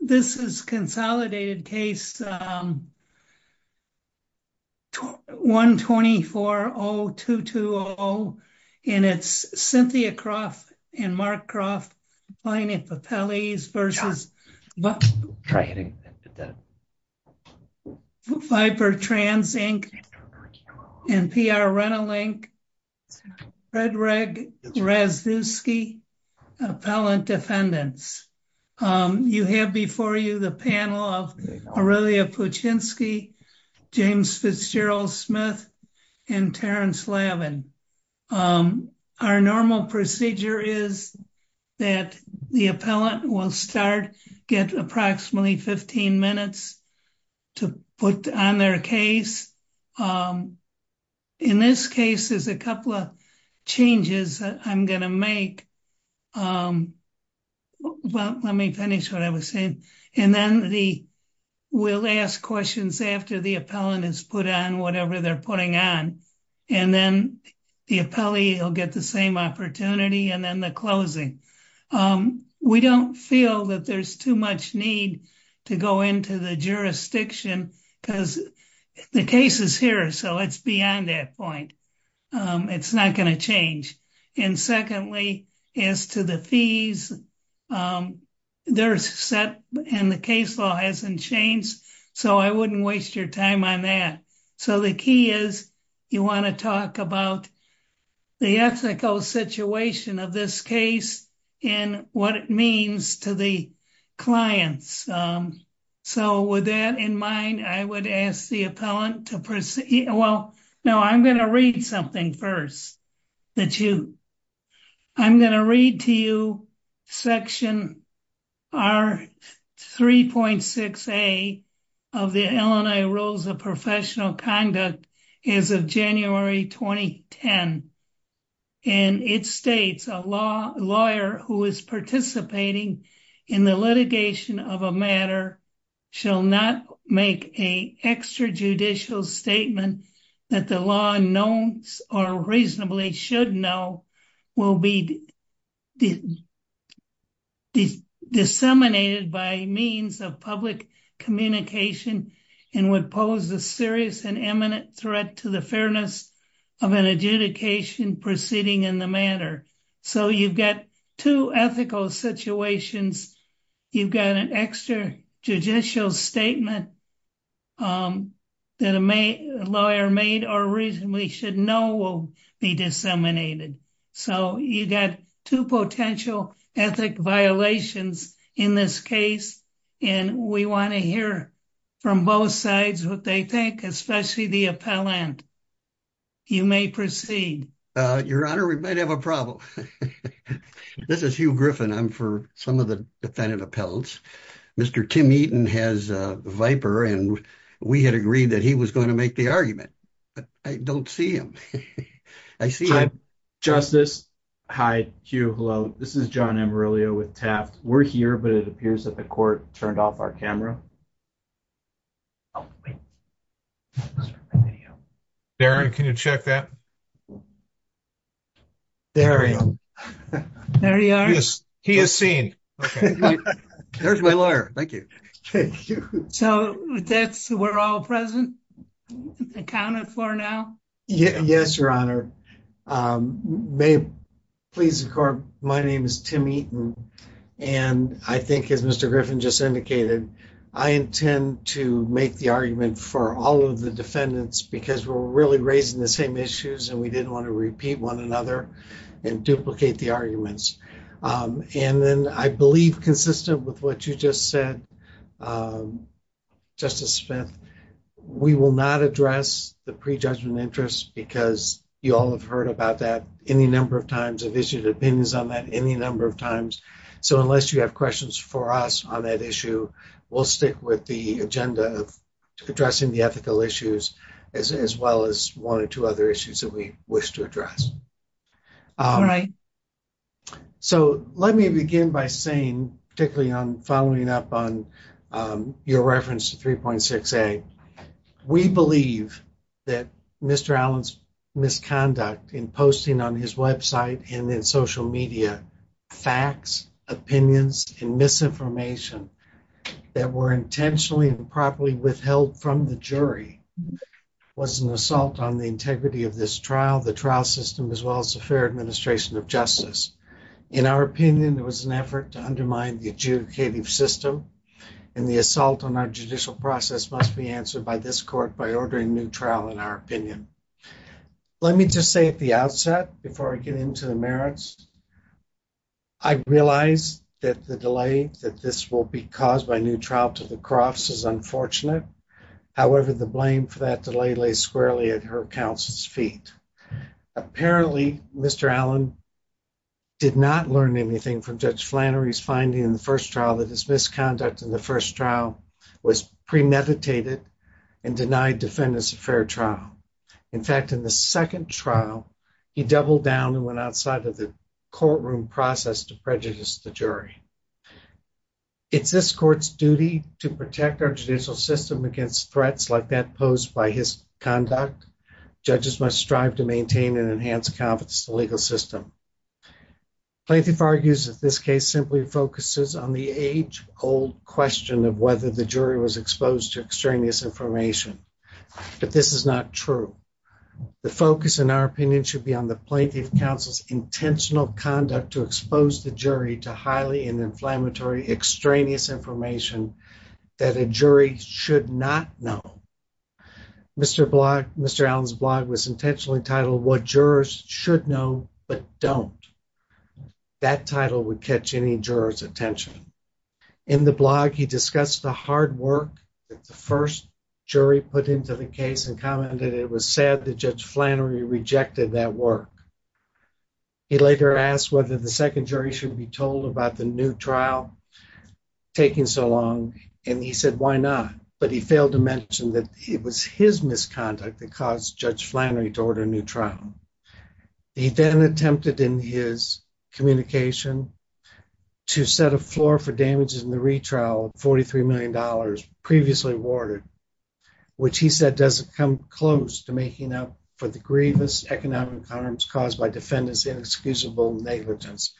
This is consolidated case 1240220, and it's Cynthia Kroft and Mark Kroft v. Viper Trans, Inc. and P. R. Renolink, Frederick Rasduski, Appellant Defendants. You have before you the panel of Aurelia Puchinsky, James Fitzgerald-Smith, and Terence Lavin. Our normal procedure is that the appellant will start, get approximately 15 minutes to put on their case. In this case, there's a couple of changes that I'm going to make. Well, let me finish what I was saying, and then we'll ask questions after the appellant has put on whatever they're putting on, and then the appellee will get the same opportunity, and then the closing. We don't feel that there's too much need to go into the jurisdiction because the case is here, so it's beyond that point. It's not going to change. And secondly, as to the fees, they're set and the case law hasn't changed, so I wouldn't waste your time on that. So, the key is you want to talk about the ethical situation of this case and what it means to the clients. So, with that in mind, I would ask the appellant to proceed. Well, no, I'm going to read something first. I'm going to read to you Section R3.6A of the L&A Rules of Professional Conduct as of January 2010. And it states, a lawyer who is participating in the litigation of a matter shall not make a extrajudicial statement that the law knows or reasonably should know will be disseminated by means of public communication and would pose a serious and imminent threat to the fairness of an adjudicator. So, you've got two ethical situations. You've got an extrajudicial statement that a lawyer made or reasonably should know will be disseminated. So, you've got two potential ethic violations in this case, and we want to hear from both sides what they think, especially the appellant. You may proceed. Your Honor, we might have a problem. This is Hugh Griffin. I'm for some of the defendant appellants. Mr. Tim Eaton has a viper, and we had agreed that he was going to make the argument. I don't see him. I see him. Hi, Justice. Hi, Hugh. Hello. This is John Amarillo with Taft. We're here, but it appears that the court turned off our camera. Darren, can you check that? Darren. There he is. He is seen. There's my lawyer. Thank you. So, we're all present and accounted for now? Yes, Your Honor. My name is Tim Eaton, and I think, as Mr. Griffin just indicated, I intend to make the argument for all of the defendants because we're really raising the same issues, and we didn't want to repeat one another and duplicate the arguments. And then I believe, consistent with what you just said, Justice Smith, we will not address the prejudgment interest because you all have heard about that any number of times, have issued opinions on that any number of times. So, unless you have questions for us on that issue, we'll stick with the agenda of addressing the ethical issues as well as one or two other issues that we wish to address. All right. So, let me begin by saying, particularly on following up on your reference to 3.6A, we believe that Mr. Allen's misconduct in posting on his website and in social media facts, opinions, and misinformation that were intentionally and properly withheld from the jury was an assault on the integrity of this trial, the trial system, as well as the fair administration of justice. In our opinion, it was an effort to undermine the adjudicative system, and the assault on our judicial process must be answered by this court by ordering a new trial, in our opinion. Let me just say at the outset, before I get into the merits, I realize that the delay that this will be caused by a new trial to the cross is unfortunate. However, the blame for that delay lays squarely at her counsel's feet. Apparently, Mr. Allen did not learn anything from Judge Flannery's finding in the first trial that his misconduct in the first trial was premeditated and denied defendants a fair trial. In fact, in the second trial, he doubled down and went outside of the courtroom process to prejudice the jury. It's this court's duty to protect our judicial system against threats like that posed by his conduct. Judges must strive to maintain and enhance confidence in the legal system. Plaintiff argues that this case simply focuses on the age-old question of whether the jury was exposed to extraneous information. But this is not true. The focus, in our opinion, should be on the plaintiff counsel's intentional conduct to expose the jury to highly inflammatory extraneous information that a jury should not know. Mr. Allen's blog was intentionally titled, What Jurors Should Know But Don't. That title would catch any jurors' attention. In the blog, he discussed the hard work that the first jury put into the case and commented it was sad that Judge Flannery rejected that work. He later asked whether the second jury should be told about the new trial taking so long, and he said, why not? But he failed to mention that it was his misconduct that caused Judge Flannery to order a new trial. He then attempted in his communication to set a floor for damages in the retrial of $43 million previously awarded, which he said doesn't come close to making up for the grievous economic harms caused by defendants' inexcusable negligence.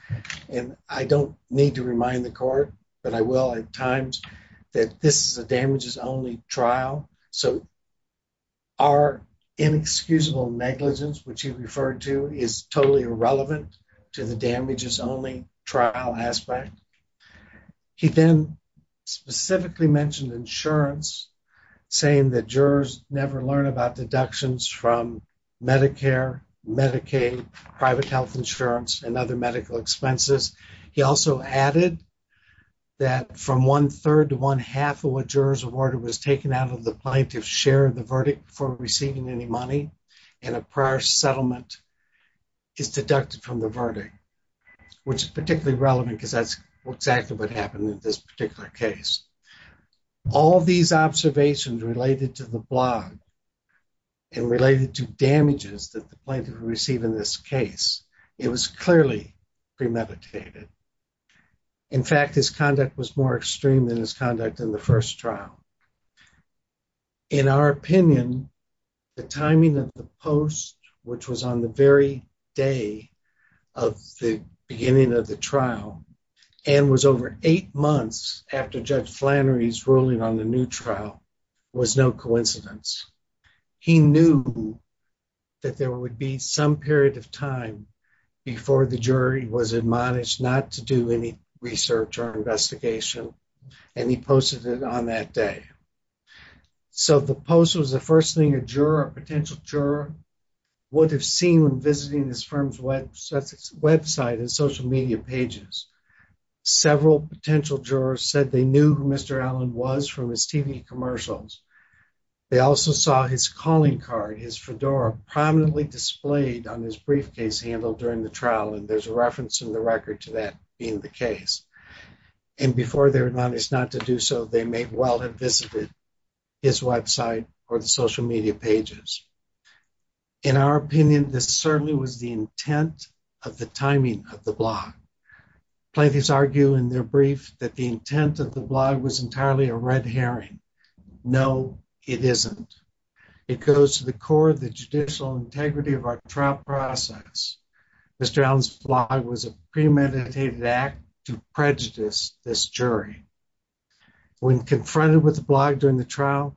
And I don't need to remind the court, but I will at times, that this is a damages-only trial. So our inexcusable negligence, which he referred to, is totally irrelevant to the damages-only trial aspect. He then specifically mentioned insurance, saying that jurors never learn about deductions from Medicare, Medicaid, private health insurance, and other medical expenses. He also added that from one-third to one-half of what jurors awarded was taken out of the plaintiff's share of the verdict before receiving any money, and a prior settlement is deducted from the verdict, which is particularly relevant because that's exactly what happened in this particular case. All these observations related to the blog and related to damages that the plaintiff received in this case, it was clearly premeditated. In fact, his conduct was more extreme than his conduct in the first trial. In our opinion, the timing of the post, which was on the very day of the beginning of the trial, and was over eight months after Judge Flannery's ruling on the new trial, was no coincidence. He knew that there would be some period of time before the jury was admonished not to do any research or investigation, and he posted it on that day. So the post was the first thing a potential juror would have seen when visiting his firm's website and social media pages. Several potential jurors said they knew who Mr. Allen was from his TV commercials. They also saw his calling card, his fedora, prominently displayed on his briefcase handle during the trial, and there's a reference in the record to that being the case. And before they were admonished not to do so, they may well have visited his website or the social media pages. In our opinion, this certainly was the intent of the timing of the blog. Plaintiffs argue in their brief that the intent of the blog was entirely a red herring. No, it isn't. It goes to the core of the judicial integrity of our trial process. Mr. Allen's blog was a premeditated act to prejudice this jury. When confronted with the blog during the trial,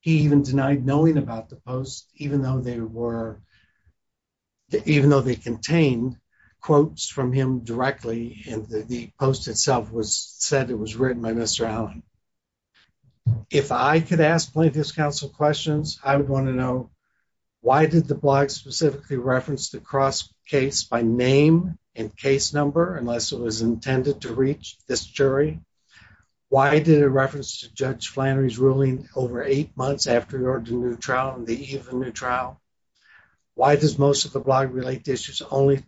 he even denied knowing about the post, even though they contained quotes from him directly, and the post itself said it was written by Mr. Allen. If I could ask plaintiffs' counsel questions, I would want to know, why did the blog specifically reference the cross case by name and case number unless it was intended to reach this jury? Why did it reference Judge Flannery's ruling over eight months after he ordered a new trial and the eve of a new trial? Why does most of the blog relate to issues only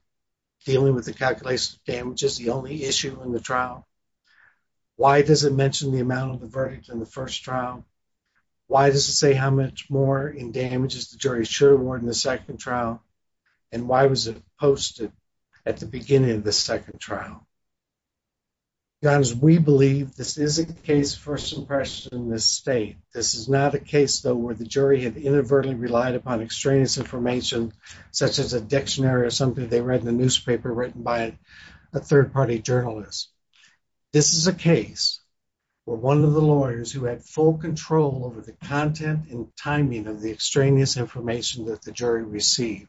dealing with the calculation of damages, the only issue in the trial? Why does it mention the amount of the verdict in the first trial? Why does it say how much more in damage is the jury sure to award in the second trial? And why was it posted at the beginning of the second trial? To be honest, we believe this is a case of first impression in this state. This is not a case, though, where the jury had inadvertently relied upon extraneous information such as a dictionary or something they read in the newspaper written by a third-party journalist. This is a case where one of the lawyers who had full control over the content and timing of the extraneous information that the jury received.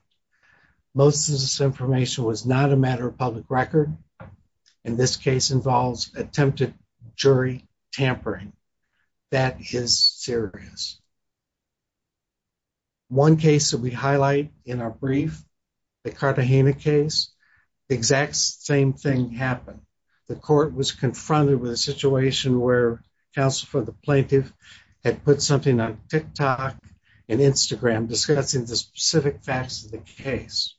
Most of this information was not a matter of public record. And this case involves attempted jury tampering. That is serious. One case that we highlight in our brief, the Cartagena case, the exact same thing happened. The court was confronted with a situation where counsel for the plaintiff had put something on TikTok and Instagram discussing the specific facts of the case.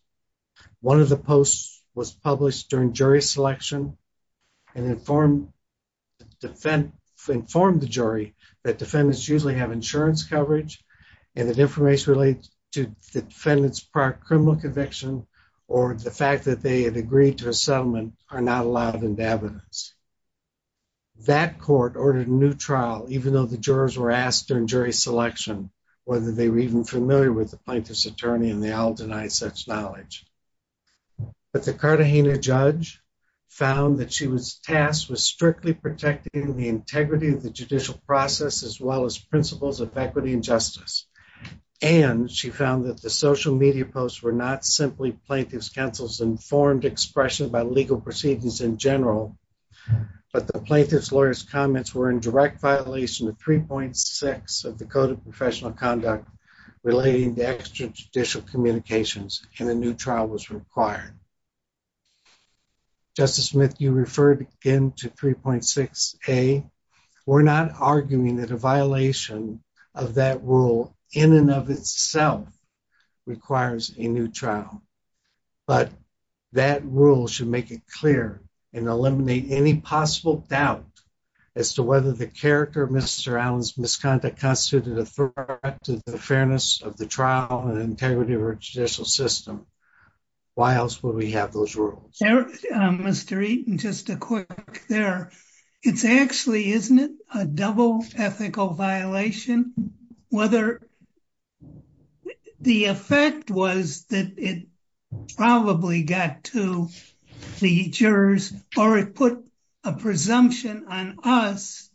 One of the posts was published during jury selection and informed the jury that defendants usually have insurance coverage and that information related to the defendant's prior criminal conviction or the fact that they had agreed to a settlement are not allowed into evidence. That court ordered a new trial, even though the jurors were asked during jury selection whether they were even familiar with the plaintiff's attorney and they all denied such knowledge. But the Cartagena judge found that she was tasked with strictly protecting the integrity of the judicial process as well as principles of equity and justice. And she found that the social media posts were not simply plaintiff's counsel's informed expression about legal proceedings in general, but the plaintiff's lawyer's comments were in direct violation of 3.6 of the Code of Professional Conduct relating to extrajudicial communications and a new trial was required. Justice Smith, you referred again to 3.6A. We're not arguing that a violation of that rule in and of itself requires a new trial, but that rule should make it clear and eliminate any possible doubt as to whether the character of Mr. Allen's misconduct constituted a threat to the fairness of the trial and integrity of our judicial system. Why else would we have those rules? Mr. Eaton, just a quick there. It's actually, isn't it a double ethical violation? Whether the effect was that it probably got to the jurors or it put a presumption on us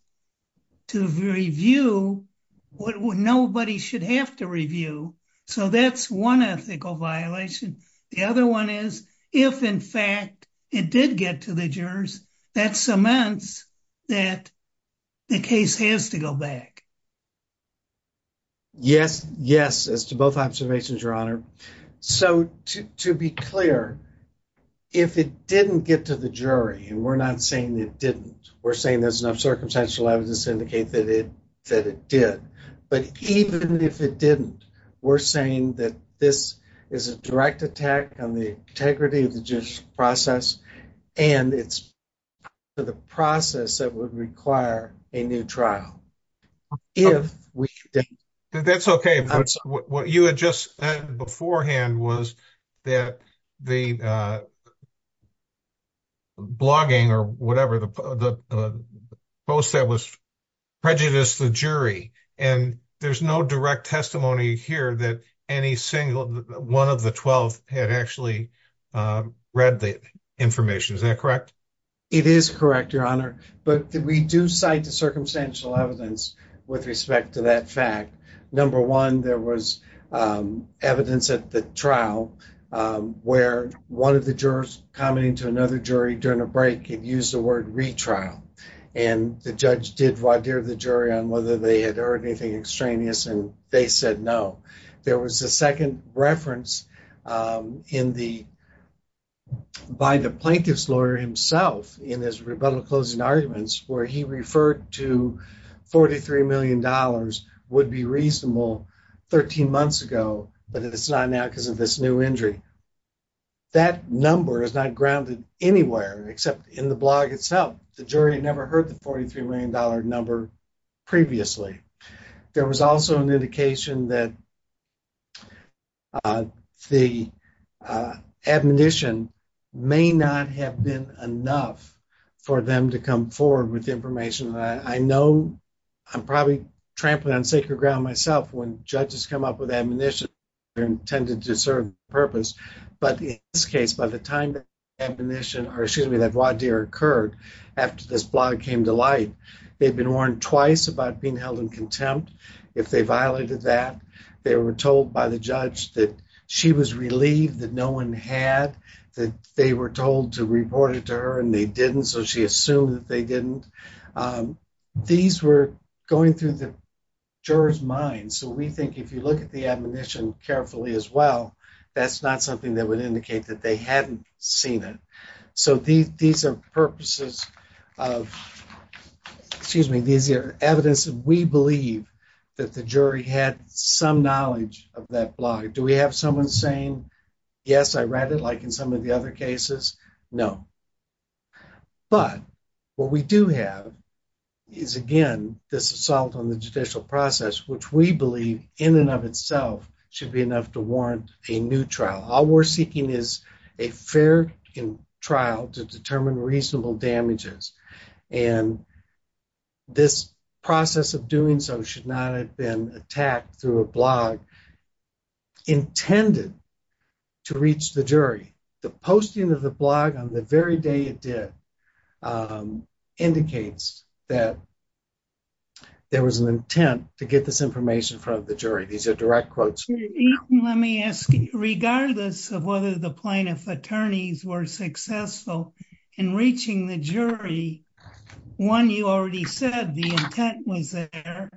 to review what nobody should have to review. So that's one ethical violation. The other one is if, in fact, it did get to the jurors, that cements that the case has to go back. Yes, yes, as to both observations, Your Honor. So, to be clear, if it didn't get to the jury, and we're not saying it didn't, we're saying there's enough circumstantial evidence to indicate that it did, but even if it didn't, we're saying that this is a direct attack on the integrity of the judicial process and it's part of the process that would require a new trial. That's okay. What you had just said beforehand was that the blogging or whatever, the post that was prejudiced the jury, and there's no direct testimony here that any single one of the 12 had actually read the information. Is that correct? It is correct, Your Honor, but we do cite the circumstantial evidence with respect to that fact. Number one, there was evidence at the trial where one of the jurors commenting to another jury during a break had used the word retrial. And the judge did vadir the jury on whether they had heard anything extraneous, and they said no. There was a second reference by the plaintiff's lawyer himself in his rebuttal closing arguments where he referred to $43 million would be reasonable 13 months ago, but it's not now because of this new injury. That number is not grounded anywhere except in the blog itself. The jury never heard the $43 million number previously. There was also an indication that. The admonition may not have been enough for them to come forward with information. I know I'm probably trampling on sacred ground myself when judges come up with admonition. But in this case, by the time that admonition, or excuse me, that vadir occurred after this blog came to light, they'd been warned twice about being held in contempt. If they violated that, they were told by the judge that she was relieved that no one had, that they were told to report it to her, and they didn't, so she assumed that they didn't. These were going through the jurors mind, so we think if you look at the admonition carefully as well, that's not something that would indicate that they hadn't seen it. So, these are purposes of excuse me. These are evidence that we believe that the jury had some knowledge of that blog. Do we have someone saying? Yes, I read it like, in some of the other cases. No. But what we do have is, again, this assault on the judicial process, which we believe in and of itself should be enough to warrant a new trial. All we're seeking is a fair trial to determine reasonable damages. And this process of doing so should not have been attacked through a blog intended to reach the jury. The posting of the blog on the very day it did indicates that there was an intent to get this information from the jury. These are direct quotes. Let me ask you, regardless of whether the plaintiff attorneys were successful in reaching the jury. One, you already said the intent was there.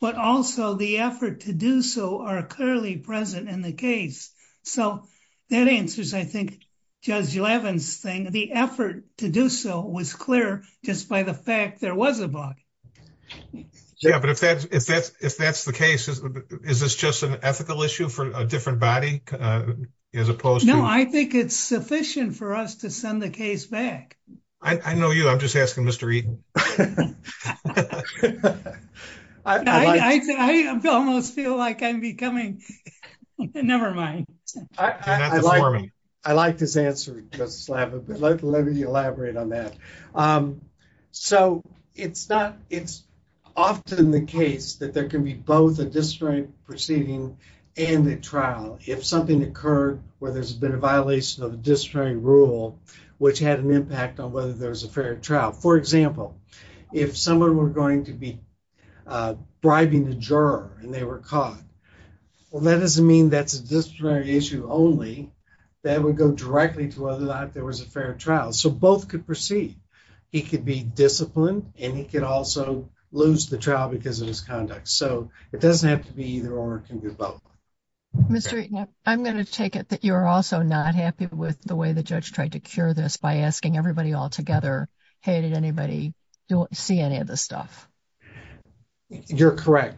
But also the effort to do so are clearly present in the case. So, that answers I think Judge Levin's thing, the effort to do so was clear, just by the fact there was a blog. Yeah, but if that's the case, is this just an ethical issue for a different body as opposed to? No, I think it's sufficient for us to send the case back. I know you, I'm just asking Mr. Eaton. I almost feel like I'm becoming, never mind. I like this answer, Justice Levin, but let me elaborate on that. So, it's often the case that there can be both a disciplinary proceeding and a trial if something occurred where there's been a violation of a disciplinary rule, which had an impact on whether there was a fair trial. For example, if someone were going to be bribing the juror and they were caught, well, that doesn't mean that's a disciplinary issue only. That would go directly to whether or not there was a fair trial. So, both could proceed. He could be disciplined and he could also lose the trial because of his conduct. So, it doesn't have to be either or, it can be both. Mr. Eaton, I'm going to take it that you're also not happy with the way the judge tried to cure this by asking everybody all together. Hey, did anybody see any of this stuff? You're correct.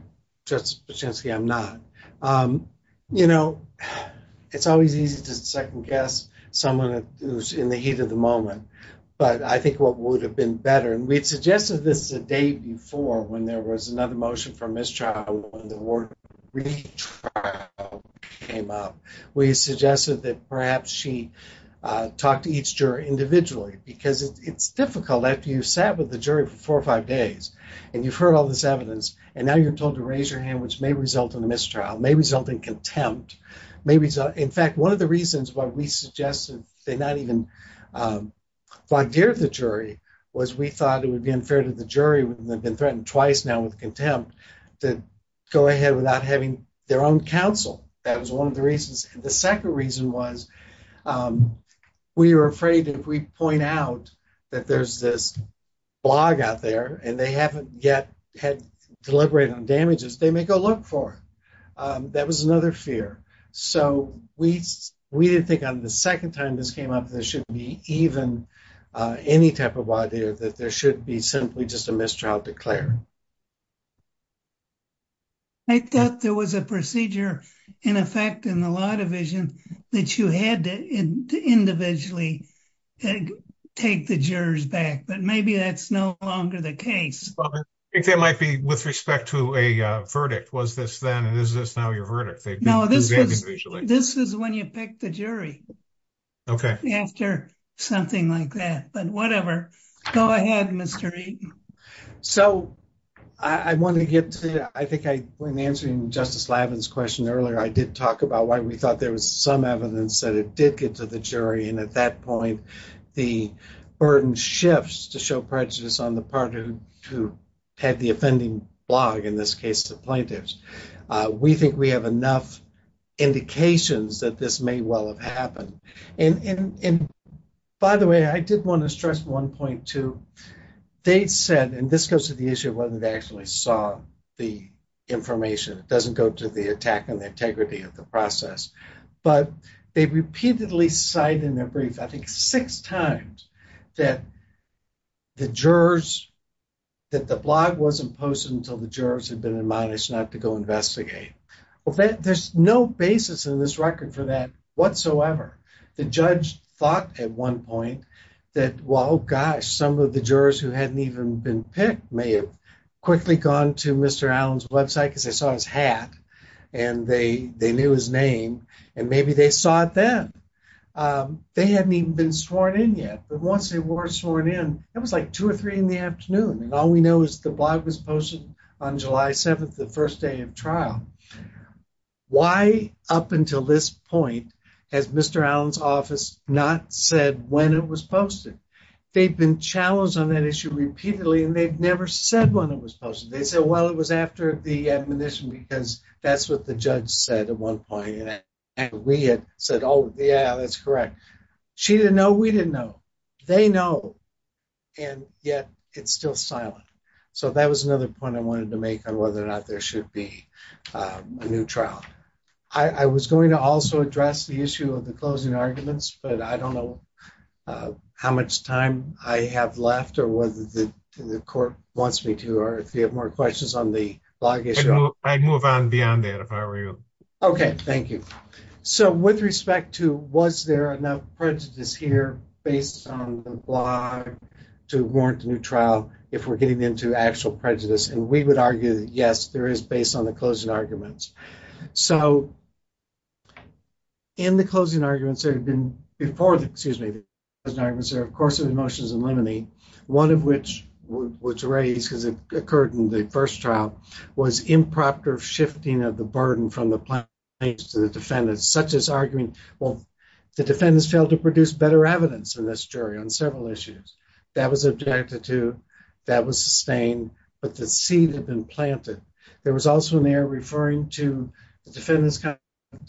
I'm not. You know, it's always easy to second guess someone who's in the heat of the moment. But I think what would have been better, and we had suggested this the day before when there was another motion for mistrial, when the word retrial came up. We suggested that perhaps she talked to each juror individually because it's difficult after you sat with the jury for four or five days and you've heard all this evidence. And now you're told to raise your hand, which may result in a mistrial, may result in contempt. In fact, one of the reasons why we suggested they not even flagged the jury was we thought it would be unfair to the jury, who had been threatened twice now with contempt, to go ahead without having their own counsel. That was one of the reasons. The second reason was we were afraid if we point out that there's this blog out there and they haven't yet deliberated on damages, they may go look for it. That was another fear. So, we didn't think on the second time this came up, there should be even any type of idea that there should be simply just a mistrial declared. I thought there was a procedure in effect in the law division that you had to individually take the jurors back, but maybe that's no longer the case. It might be with respect to a verdict. Was this then? And is this now your verdict? No, this is when you pick the jury. Okay, after something like that, but whatever. Go ahead. Mr. So, I want to get to, I think when answering Justice Lavin's question earlier, I did talk about why we thought there was some evidence that it did get to the jury. And at that point, the burden shifts to show prejudice on the part of who had the offending blog, in this case, the plaintiffs. We think we have enough indications that this may well have happened. And by the way, I did want to stress one point, too. They said, and this goes to the issue of whether they actually saw the information. It doesn't go to the attack on the integrity of the process. But they repeatedly cite in their brief, I think six times, that the blog wasn't posted until the jurors had been admonished not to go investigate. There's no basis in this record for that whatsoever. The judge thought at one point that, well, gosh, some of the jurors who hadn't even been picked may have quickly gone to Mr. Allen's website because they saw his hat and they knew his name. And maybe they saw it then. They hadn't even been sworn in yet. But once they were sworn in, it was like two or three in the afternoon. And all we know is the blog was posted on July 7th, the first day of trial. Why, up until this point, has Mr. Allen's office not said when it was posted? They've been challenged on that issue repeatedly, and they've never said when it was posted. They said, well, it was after the admonition because that's what the judge said at one point. And we had said, oh, yeah, that's correct. She didn't know. We didn't know. They know. And yet it's still silent. So that was another point I wanted to make on whether or not there should be a new trial. I was going to also address the issue of the closing arguments, but I don't know how much time I have left or whether the court wants me to or if you have more questions on the blog issue. I'd move on beyond that if I were you. Okay, thank you. So with respect to was there enough prejudice here based on the blog to warrant a new trial if we're getting into actual prejudice, and we would argue that, yes, there is, based on the closing arguments. So in the closing arguments, there had been before the, excuse me, the closing arguments there, of course, of emotions and liminy, one of which was raised because it occurred in the first trial, was improper shifting of the burden from the plaintiff to the defendant, such as arguing, well, the defendants failed to produce better evidence in this jury on several issues. That was objected to. That was sustained. But the seed had been planted. There was also an error referring to the defendant's conduct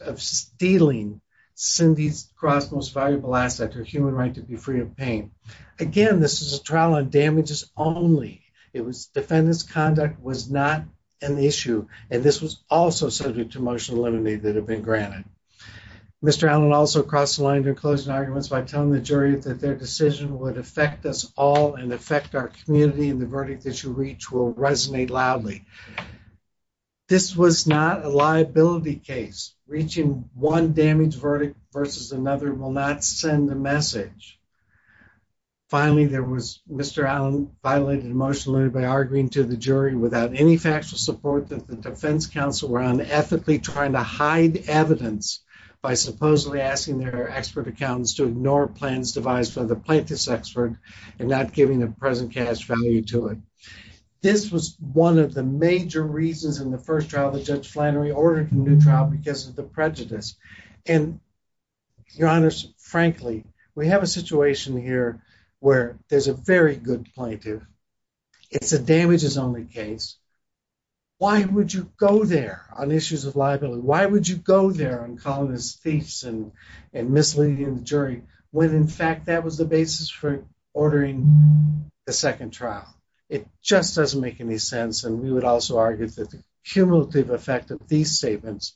of stealing Cindy's Cross Most Valuable Asset, her human right to be free of pain. Again, this is a trial on damages only. It was defendant's conduct was not an issue, and this was also subject to emotional liminy that had been granted. Mr. Allen also crossed the line in closing arguments by telling the jury that their decision would affect us all and affect our community, and the verdict that you reach will resonate loudly. This was not a liability case. Reaching one damage verdict versus another will not send a message. Finally, Mr. Allen violated emotional liminy by arguing to the jury without any factual support that the defense counsel were unethically trying to hide evidence by supposedly asking their expert accountants to ignore plans devised by the plaintiff's expert and not giving the present cash value to it. This was one of the major reasons in the first trial that Judge Flannery ordered a new trial because of the prejudice. Your Honor, frankly, we have a situation here where there's a very good plaintiff. It's a damages only case. Why would you go there on issues of liability? Why would you go there on calling us thieves and misleading the jury when, in fact, that was the basis for ordering the second trial? It just doesn't make any sense. And we would also argue that the cumulative effect of these statements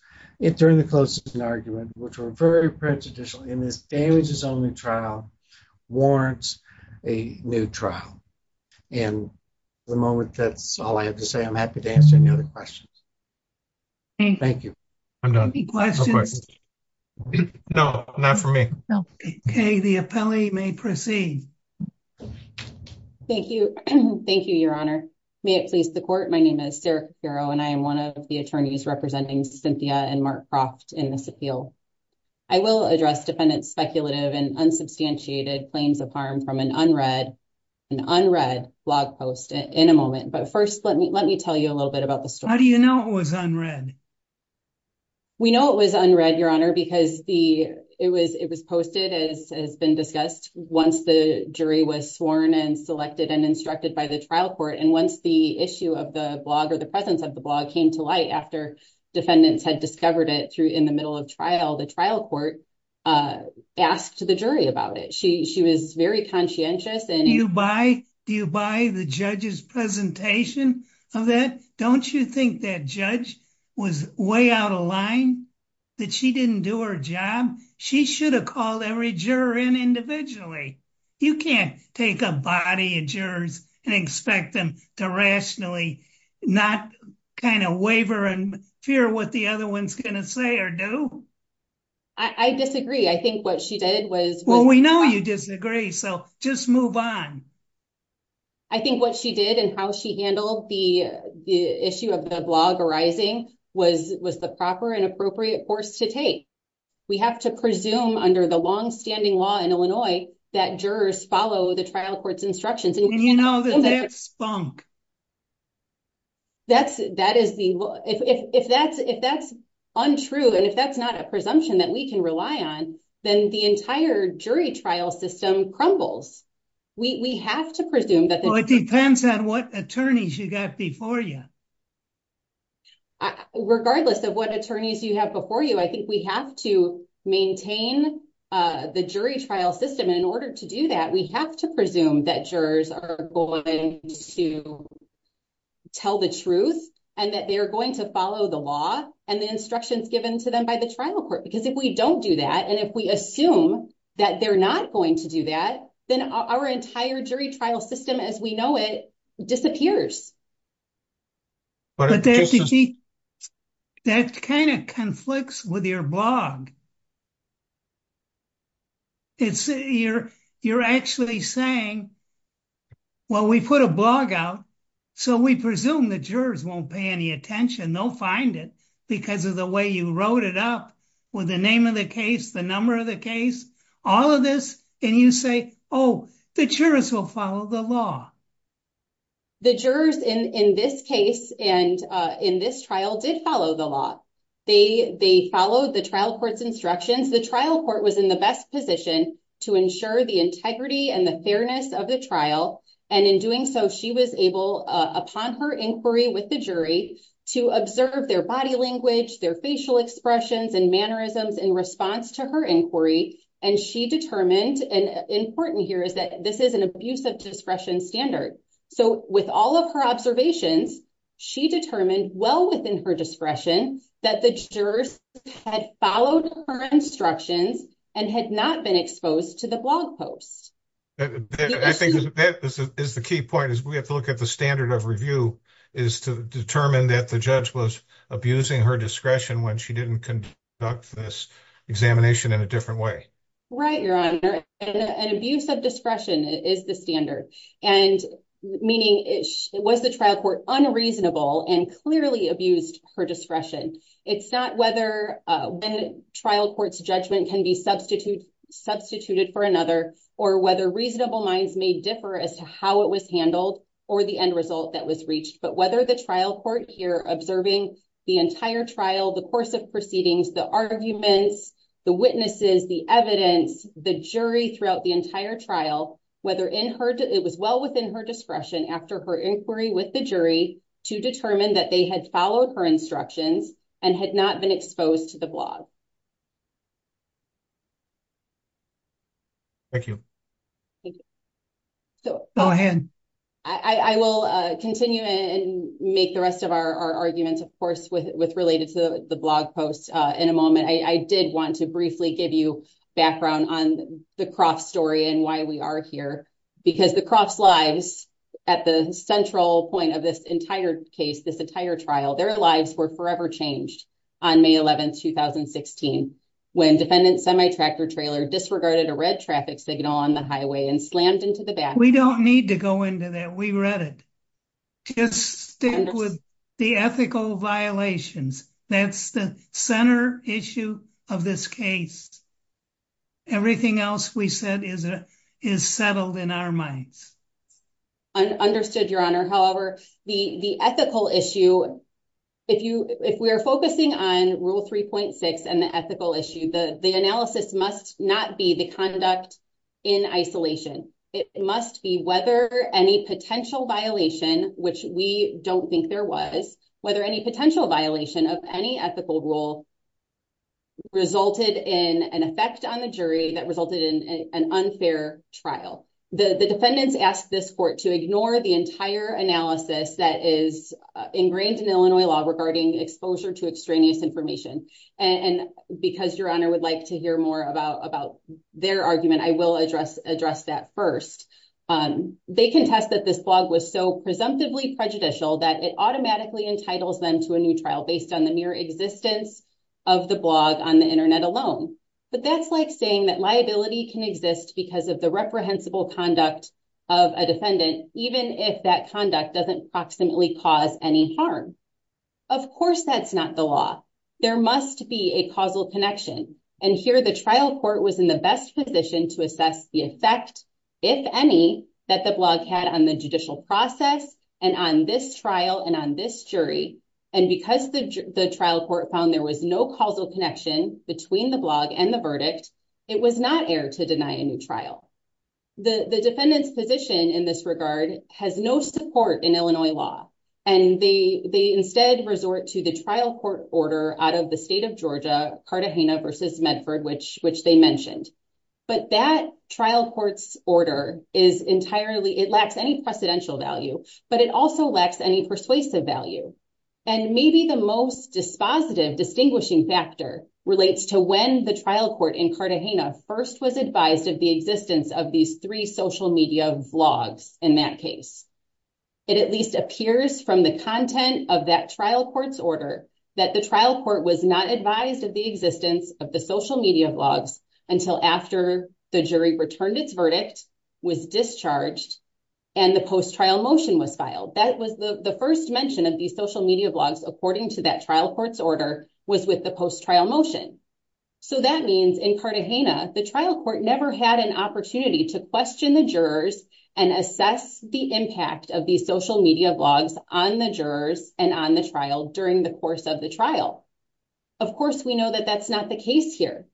during the closing argument, which were very prejudicial in this damages only trial, warrants a new trial. And at the moment, that's all I have to say. I'm happy to answer any other questions. Thank you. Any questions? No, not for me. Okay, the appellee may proceed. Thank you. Thank you, Your Honor. May it please the court. My name is Sarah, and I am one of the attorneys representing Cynthia and Mark Croft in this appeal. I will address defendant's speculative and unsubstantiated claims of harm from an unread blog post in a moment. But first, let me let me tell you a little bit about the story. How do you know it was unread? We know it was unread, Your Honor, because it was posted, as has been discussed, once the jury was sworn and selected and instructed by the trial court. And once the issue of the blog or the presence of the blog came to light after defendants had discovered it in the middle of trial, the trial court asked the jury about it. She was very conscientious. Do you buy the judge's presentation of that? Don't you think that judge was way out of line, that she didn't do her job? She should have called every juror in individually. You can't take a body of jurors and expect them to rationally not kind of waver and fear what the other one's going to say or do. I disagree. I think what she did was... Well, we know you disagree, so just move on. I think what she did and how she handled the issue of the blog arising was the proper and appropriate course to take. We have to presume under the longstanding law in Illinois that jurors follow the trial court's instructions. And you know that that spunk. If that's untrue and if that's not a presumption that we can rely on, then the entire jury trial system crumbles. We have to presume that... Well, it depends on what attorneys you got before you. Regardless of what attorneys you have before you, I think we have to maintain the jury trial system. And in order to do that, we have to presume that jurors are going to tell the truth and that they're going to follow the law and the instructions given to them by the trial court. Because if we don't do that, and if we assume that they're not going to do that, then our entire jury trial system as we know it disappears. That kind of conflicts with your blog. You're actually saying, well, we put a blog out, so we presume the jurors won't pay any attention. They'll find it because of the way you wrote it up with the name of the case, the number of the case, all of this. And you say, oh, the jurors will follow the law. The jurors in this case and in this trial did follow the law. They followed the trial court's instructions. The trial court was in the best position to ensure the integrity and the fairness of the trial. And in doing so, she was able upon her inquiry with the jury to observe their body language, their facial expressions and mannerisms in response to her inquiry. And she determined and important here is that this is an abuse of discretion standard. So with all of her observations, she determined well within her discretion that the jurors had followed her instructions and had not been exposed to the blog post. I think that is the key point is we have to look at the standard of review is to determine that the judge was abusing her discretion when she didn't conduct this examination in a different way. Right, your honor, an abuse of discretion is the standard and meaning it was the trial court unreasonable and clearly abused her discretion. It's not whether trial court's judgment can be substitute substituted for another or whether reasonable minds may differ as to how it was handled or the end result that was reached. But whether the trial court here observing the entire trial, the course of proceedings, the arguments, the witnesses, the evidence, the jury throughout the entire trial, whether in her, it was well within her discretion after her inquiry with the jury. To determine that they had followed her instructions and had not been exposed to the blog. Thank you. So, I will continue and make the rest of our arguments, of course, with with related to the blog posts in a moment. I did want to briefly give you background on the crop story and why we are here because the crops lives at the central point of this entire case, this entire trial, their lives were forever changed on May 11, 2016. When defendant semi tractor trailer disregarded a red traffic signal on the highway and slammed into the back. We don't need to go into that. We read it. Just stick with the ethical violations. That's the center issue of this case. Everything else we said is is settled in our minds. Understood your honor. However, the, the ethical issue. If you, if we are focusing on rule 3.6 and the ethical issue, the analysis must not be the conduct. In isolation, it must be whether any potential violation, which we don't think there was whether any potential violation of any ethical rule. Resulted in an effect on the jury that resulted in an unfair trial, the defendants asked this court to ignore the entire analysis that is ingrained in Illinois law regarding exposure to extraneous information. And because your honor would like to hear more about about their argument, I will address address that 1st. They can test that this blog was so presumptively prejudicial that it automatically entitles them to a new trial based on the mere existence of the blog on the Internet alone. But that's like saying that liability can exist because of the reprehensible conduct of a defendant, even if that conduct doesn't proximately cause any harm. Of course, that's not the law. There must be a causal connection and here the trial court was in the best position to assess the effect. If any, that the blog had on the judicial process, and on this trial, and on this jury, and because the trial court found there was no causal connection between the blog and the verdict. It was not air to deny a new trial. The defendant's position in this regard has no support in Illinois law, and they instead resort to the trial court order out of the state of Georgia, Carta, Hanna versus Medford, which which they mentioned. But that trial courts order is entirely it lacks any precedential value, but it also lacks any persuasive value. And maybe the most dispositive distinguishing factor relates to when the trial court in Carta Hanna first was advised of the existence of these three social media blogs. In that case, it at least appears from the content of that trial courts order that the trial court was not advised of the existence of the social media blogs until after the jury returned its verdict was discharged. And the post trial motion was filed. That was the first mention of these social media blogs, according to that trial courts order was with the post trial motion. So that means in Carta Hanna, the trial court never had an opportunity to question the jurors and assess the impact of these social media blogs on the jurors and on the trial during the course of the trial. Of course, we know that that's not the case here.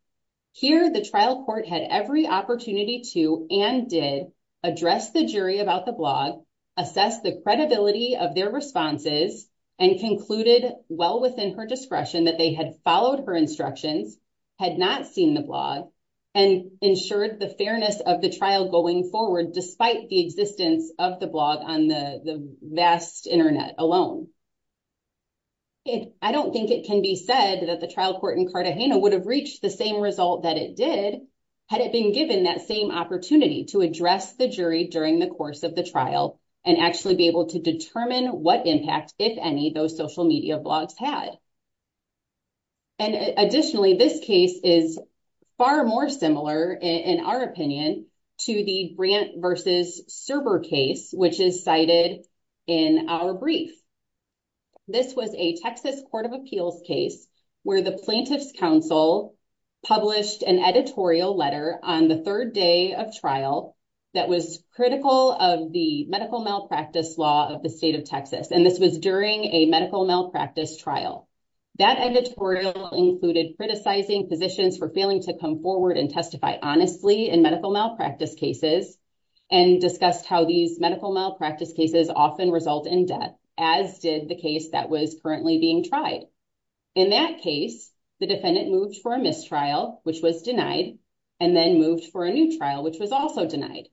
Here, the trial court had every opportunity to and did address the jury about the blog, assess the credibility of their responses, and concluded well within her discretion that they had followed her instructions, had not seen the blog, and ensured the fairness of the trial going forward, despite the existence of the blog on the vast Internet alone. I don't think it can be said that the trial court in Carta Hanna would have reached the same result that it did had it been given that same opportunity to address the jury during the course of the trial and actually be able to determine what impact, if any, those social media blogs had. And additionally, this case is far more similar, in our opinion, to the Grant versus Serber case, which is cited in our brief. This was a Texas Court of Appeals case where the plaintiff's counsel published an editorial letter on the third day of trial that was critical of the medical malpractice law of the state of Texas, and this was during a medical malpractice trial. That editorial included criticizing physicians for failing to come forward and testify honestly in medical malpractice cases and discussed how these medical malpractice cases often result in death, as did the case that was currently being tried. In that case, the defendant moved for a mistrial, which was denied, and then moved for a new trial, which was also denied.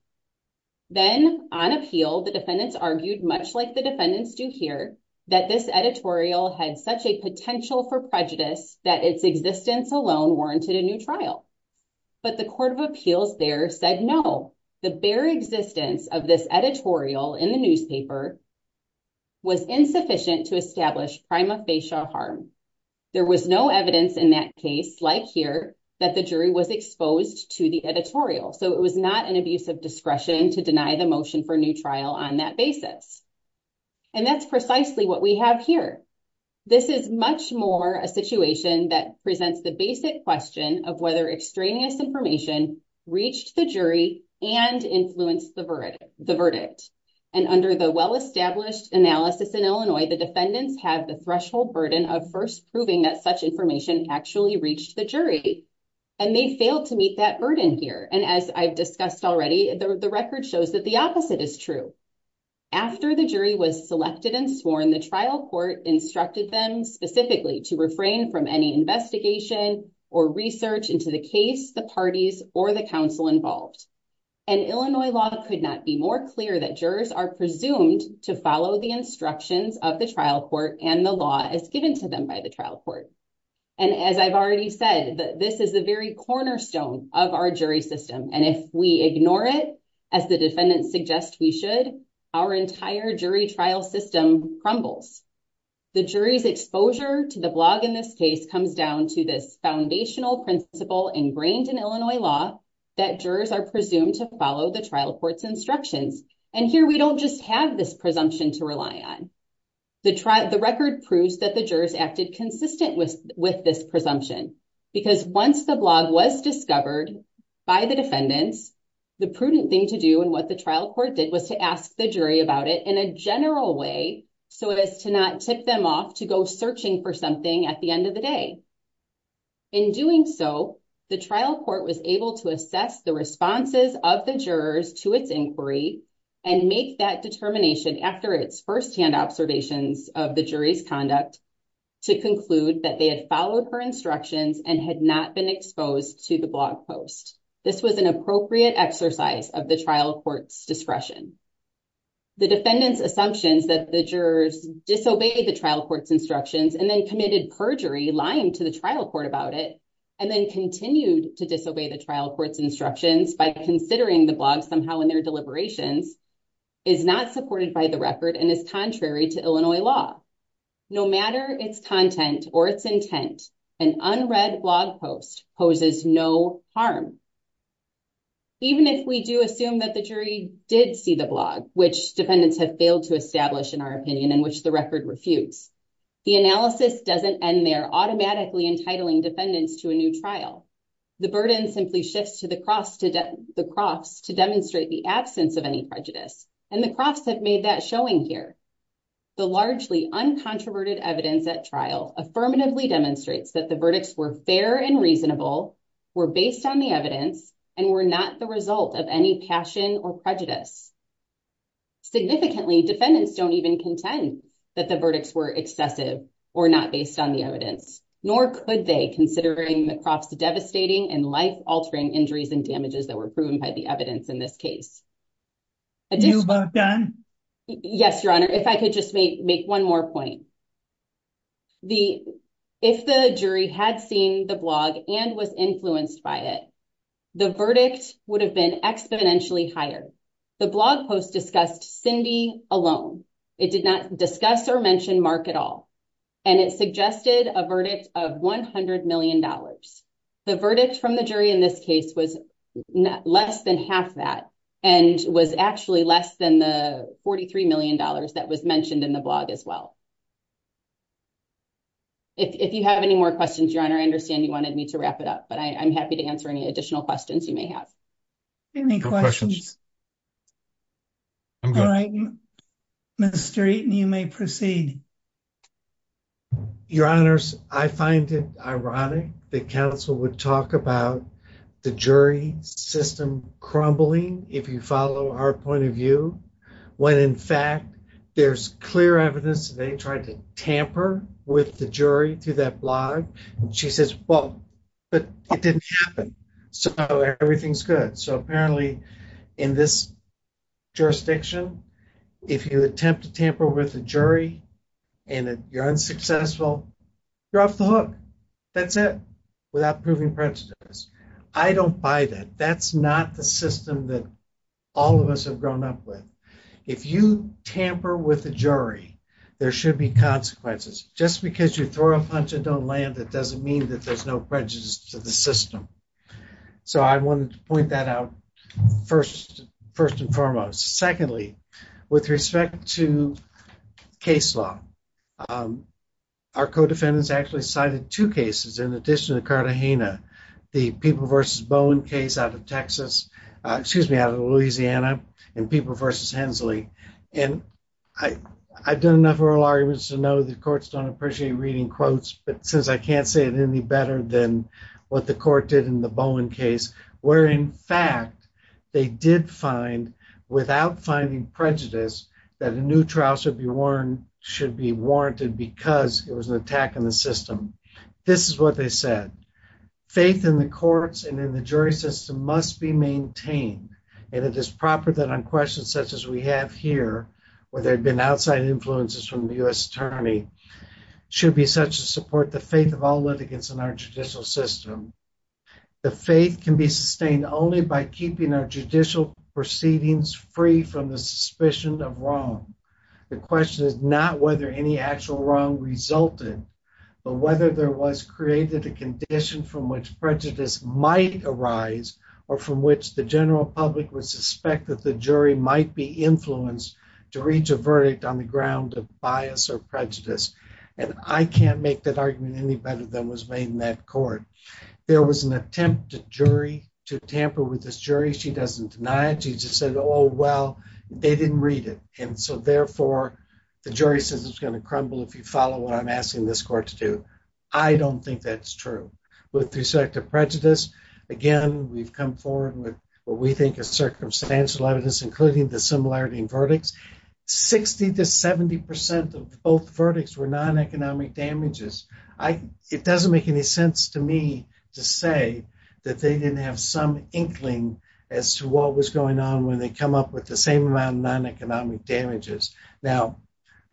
Then, on appeal, the defendants argued, much like the defendants do here, that this editorial had such a potential for prejudice that its existence alone warranted a new trial. But the Court of Appeals there said, no, the bare existence of this editorial in the newspaper was insufficient to establish prima facie harm. There was no evidence in that case, like here, that the jury was exposed to the editorial, so it was not an abuse of discretion to deny the motion for new trial on that basis. And that's precisely what we have here. This is much more a situation that presents the basic question of whether extraneous information reached the jury and influenced the verdict. And under the well-established analysis in Illinois, the defendants have the threshold burden of first proving that such information actually reached the jury. And they failed to meet that burden here. And as I've discussed already, the record shows that the opposite is true. After the jury was selected and sworn, the trial court instructed them specifically to refrain from any investigation or research into the case, the parties, or the counsel involved. And Illinois law could not be more clear that jurors are presumed to follow the instructions of the trial court and the law as given to them by the trial court. And as I've already said, this is the very cornerstone of our jury system. And if we ignore it, as the defendants suggest we should, our entire jury trial system crumbles. The jury's exposure to the blog in this case comes down to this foundational principle ingrained in Illinois law that jurors are presumed to follow the trial court's instructions. And here we don't just have this presumption to rely on. The record proves that the jurors acted consistent with this presumption. Because once the blog was discovered by the defendants, the prudent thing to do and what the trial court did was to ask the jury about it in a general way so as to not tip them off to go searching for something at the end of the day. In doing so, the trial court was able to assess the responses of the jurors to its inquiry and make that determination after its firsthand observations of the jury's conduct to conclude that they had followed her instructions and had not been exposed to the blog post. This was an appropriate exercise of the trial court's discretion. The defendants' assumptions that the jurors disobeyed the trial court's instructions and then committed perjury, lying to the trial court about it, and then continued to disobey the trial court's instructions by considering the blog somehow in their deliberations is not supported by the record and is contrary to Illinois law. No matter its content or its intent, an unread blog post poses no harm. Even if we do assume that the jury did see the blog, which defendants have failed to establish in our opinion and which the record refutes, the analysis doesn't end there automatically entitling defendants to a new trial. The burden simply shifts to the Crofts to demonstrate the absence of any prejudice, and the Crofts have made that showing here. The largely uncontroverted evidence at trial affirmatively demonstrates that the verdicts were fair and reasonable, were based on the evidence, and were not the result of any passion or prejudice. Significantly, defendants don't even contend that the verdicts were excessive or not based on the evidence, nor could they considering the Crofts' devastating and life-altering injuries and damages that were proven by the evidence in this case. Are you done? Yes, Your Honor. If I could just make one more point. If the jury had seen the blog and was influenced by it, the verdict would have been exponentially higher. The blog post discussed Cindy alone. It did not discuss or mention Mark at all, and it suggested a verdict of $100 million. The verdict from the jury in this case was less than half that, and was actually less than the $43 million that was mentioned in the blog as well. If you have any more questions, Your Honor, I understand you wanted me to wrap it up, but I'm happy to answer any additional questions you may have. Any questions? I'm good. Mr. Eaton, you may proceed. Your Honors, I find it ironic that counsel would talk about the jury system crumbling, if you follow our point of view, when, in fact, there's clear evidence that they tried to tamper with the jury through that blog. She says, well, but it didn't happen, so everything's good. So, apparently, in this jurisdiction, if you attempt to tamper with the jury and you're unsuccessful, you're off the hook. That's it, without proving prejudice. I don't buy that. That's not the system that all of us have grown up with. If you tamper with the jury, there should be consequences. Just because you throw a punch and don't land, it doesn't mean that there's no prejudice to the system. So, I wanted to point that out, first and foremost. Secondly, with respect to case law, our co-defendants actually cited two cases in addition to the Cartagena, the People v. Bowen case out of Louisiana and People v. Hensley. And I've done enough oral arguments to know the courts don't appreciate reading quotes, but since I can't say it any better than what the court did in the Bowen case, where, in fact, they did find, without finding prejudice, that a new trial should be warranted because it was an attack on the system. This is what they said. Faith in the courts and in the jury system must be maintained, and it is proper that on questions such as we have here, where there have been outside influences from the U.S. Attorney, should be such a support the faith of all litigants in our judicial system. The faith can be sustained only by keeping our judicial proceedings free from the suspicion of wrong. The question is not whether any actual wrong resulted, but whether there was created a condition from which prejudice might arise or from which the general public would suspect that the jury might be influenced to reach a verdict on the ground of bias or prejudice. And I can't make that argument any better than was made in that court. There was an attempt to jury, to tamper with this jury. She doesn't deny it. She just said, oh, well, they didn't read it. And so, therefore, the jury says it's going to crumble if you follow what I'm asking this court to do. I don't think that's true with respect to prejudice. Again, we've come forward with what we think is circumstantial evidence, including the similarity in verdicts. 60 to 70 percent of both verdicts were non-economic damages. It doesn't make any sense to me to say that they didn't have some inkling as to what was going on when they come up with the same amount of non-economic damages. Now,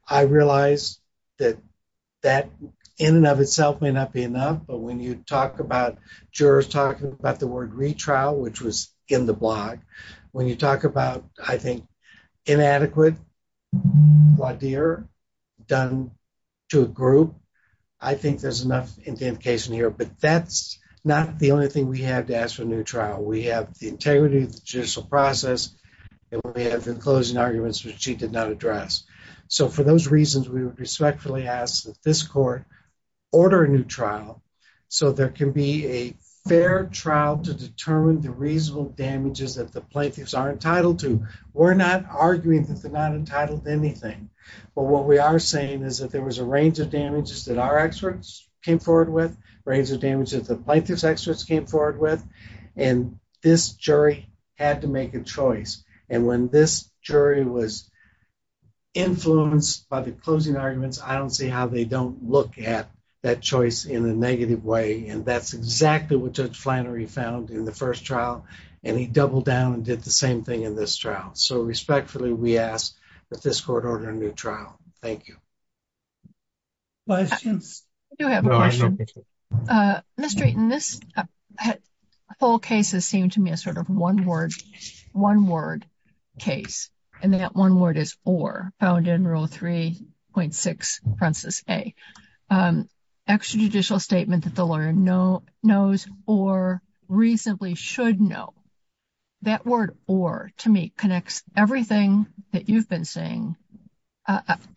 I realize that that, in and of itself, may not be enough. But when you talk about jurors talking about the word retrial, which was in the blog, when you talk about, I think, inadequate laudere done to a group, I think there's enough identification here. But that's not the only thing we have to ask for a new trial. We have the integrity of the judicial process, and we have the closing arguments which she did not address. So, for those reasons, we would respectfully ask that this court order a new trial so there can be a fair trial to determine the reasonable damages that the plaintiffs are entitled to. We're not arguing that they're not entitled to anything. But what we are saying is that there was a range of damages that our experts came forward with, a range of damages that the plaintiffs' experts came forward with, and this jury had to make a choice. And when this jury was influenced by the closing arguments, I don't see how they don't look at that choice in a negative way. And that's exactly what Judge Flannery found in the first trial, and he doubled down and did the same thing in this trial. So, respectfully, we ask that this court order a new trial. Thank you. Questions? I do have a question. Ms. Drayton, this whole case has seemed to me a sort of one-word case, and that one word is or, found in Rule 3.6, Principle A. Extrajudicial statement that the lawyer knows or reasonably should know. That word or, to me, connects everything that you've been saying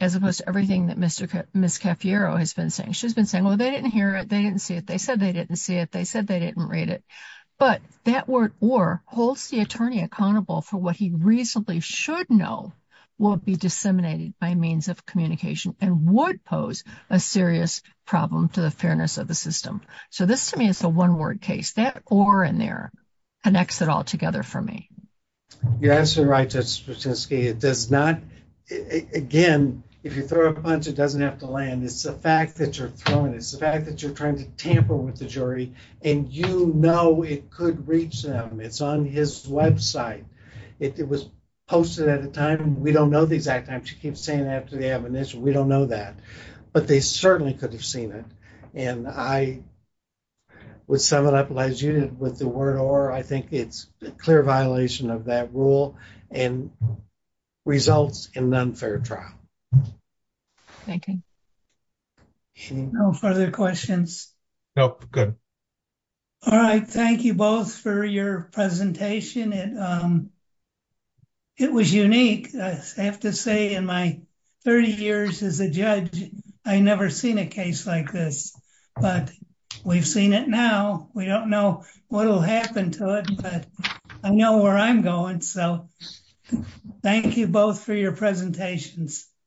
as opposed to everything that Ms. Cafiero has been saying. She's been saying, well, they didn't hear it, they didn't see it, they said they didn't see it, they said they didn't read it. But that word or holds the attorney accountable for what he reasonably should know will be disseminated by means of communication and would pose a serious problem to the fairness of the system. So this, to me, is a one-word case. That or in there connects it all together for me. You're absolutely right, Judge Sputinski. It does not, again, if you throw a punch, it doesn't have to land. It's the fact that you're throwing, it's the fact that you're trying to tamper with the jury, and you know it could reach them. It's on his website. It was posted at a time, we don't know the exact time, she keeps saying after the admonition, we don't know that. But they certainly could have seen it. And I would sum it up, as you did with the word or, I think it's a clear violation of that rule and results in an unfair trial. Thank you. No further questions? Nope, good. All right, thank you both for your presentation. It was unique. I have to say in my 30 years as a judge, I never seen a case like this. But we've seen it now. We don't know what will happen to it, but I know where I'm going. So thank you both for your presentations. Thank you.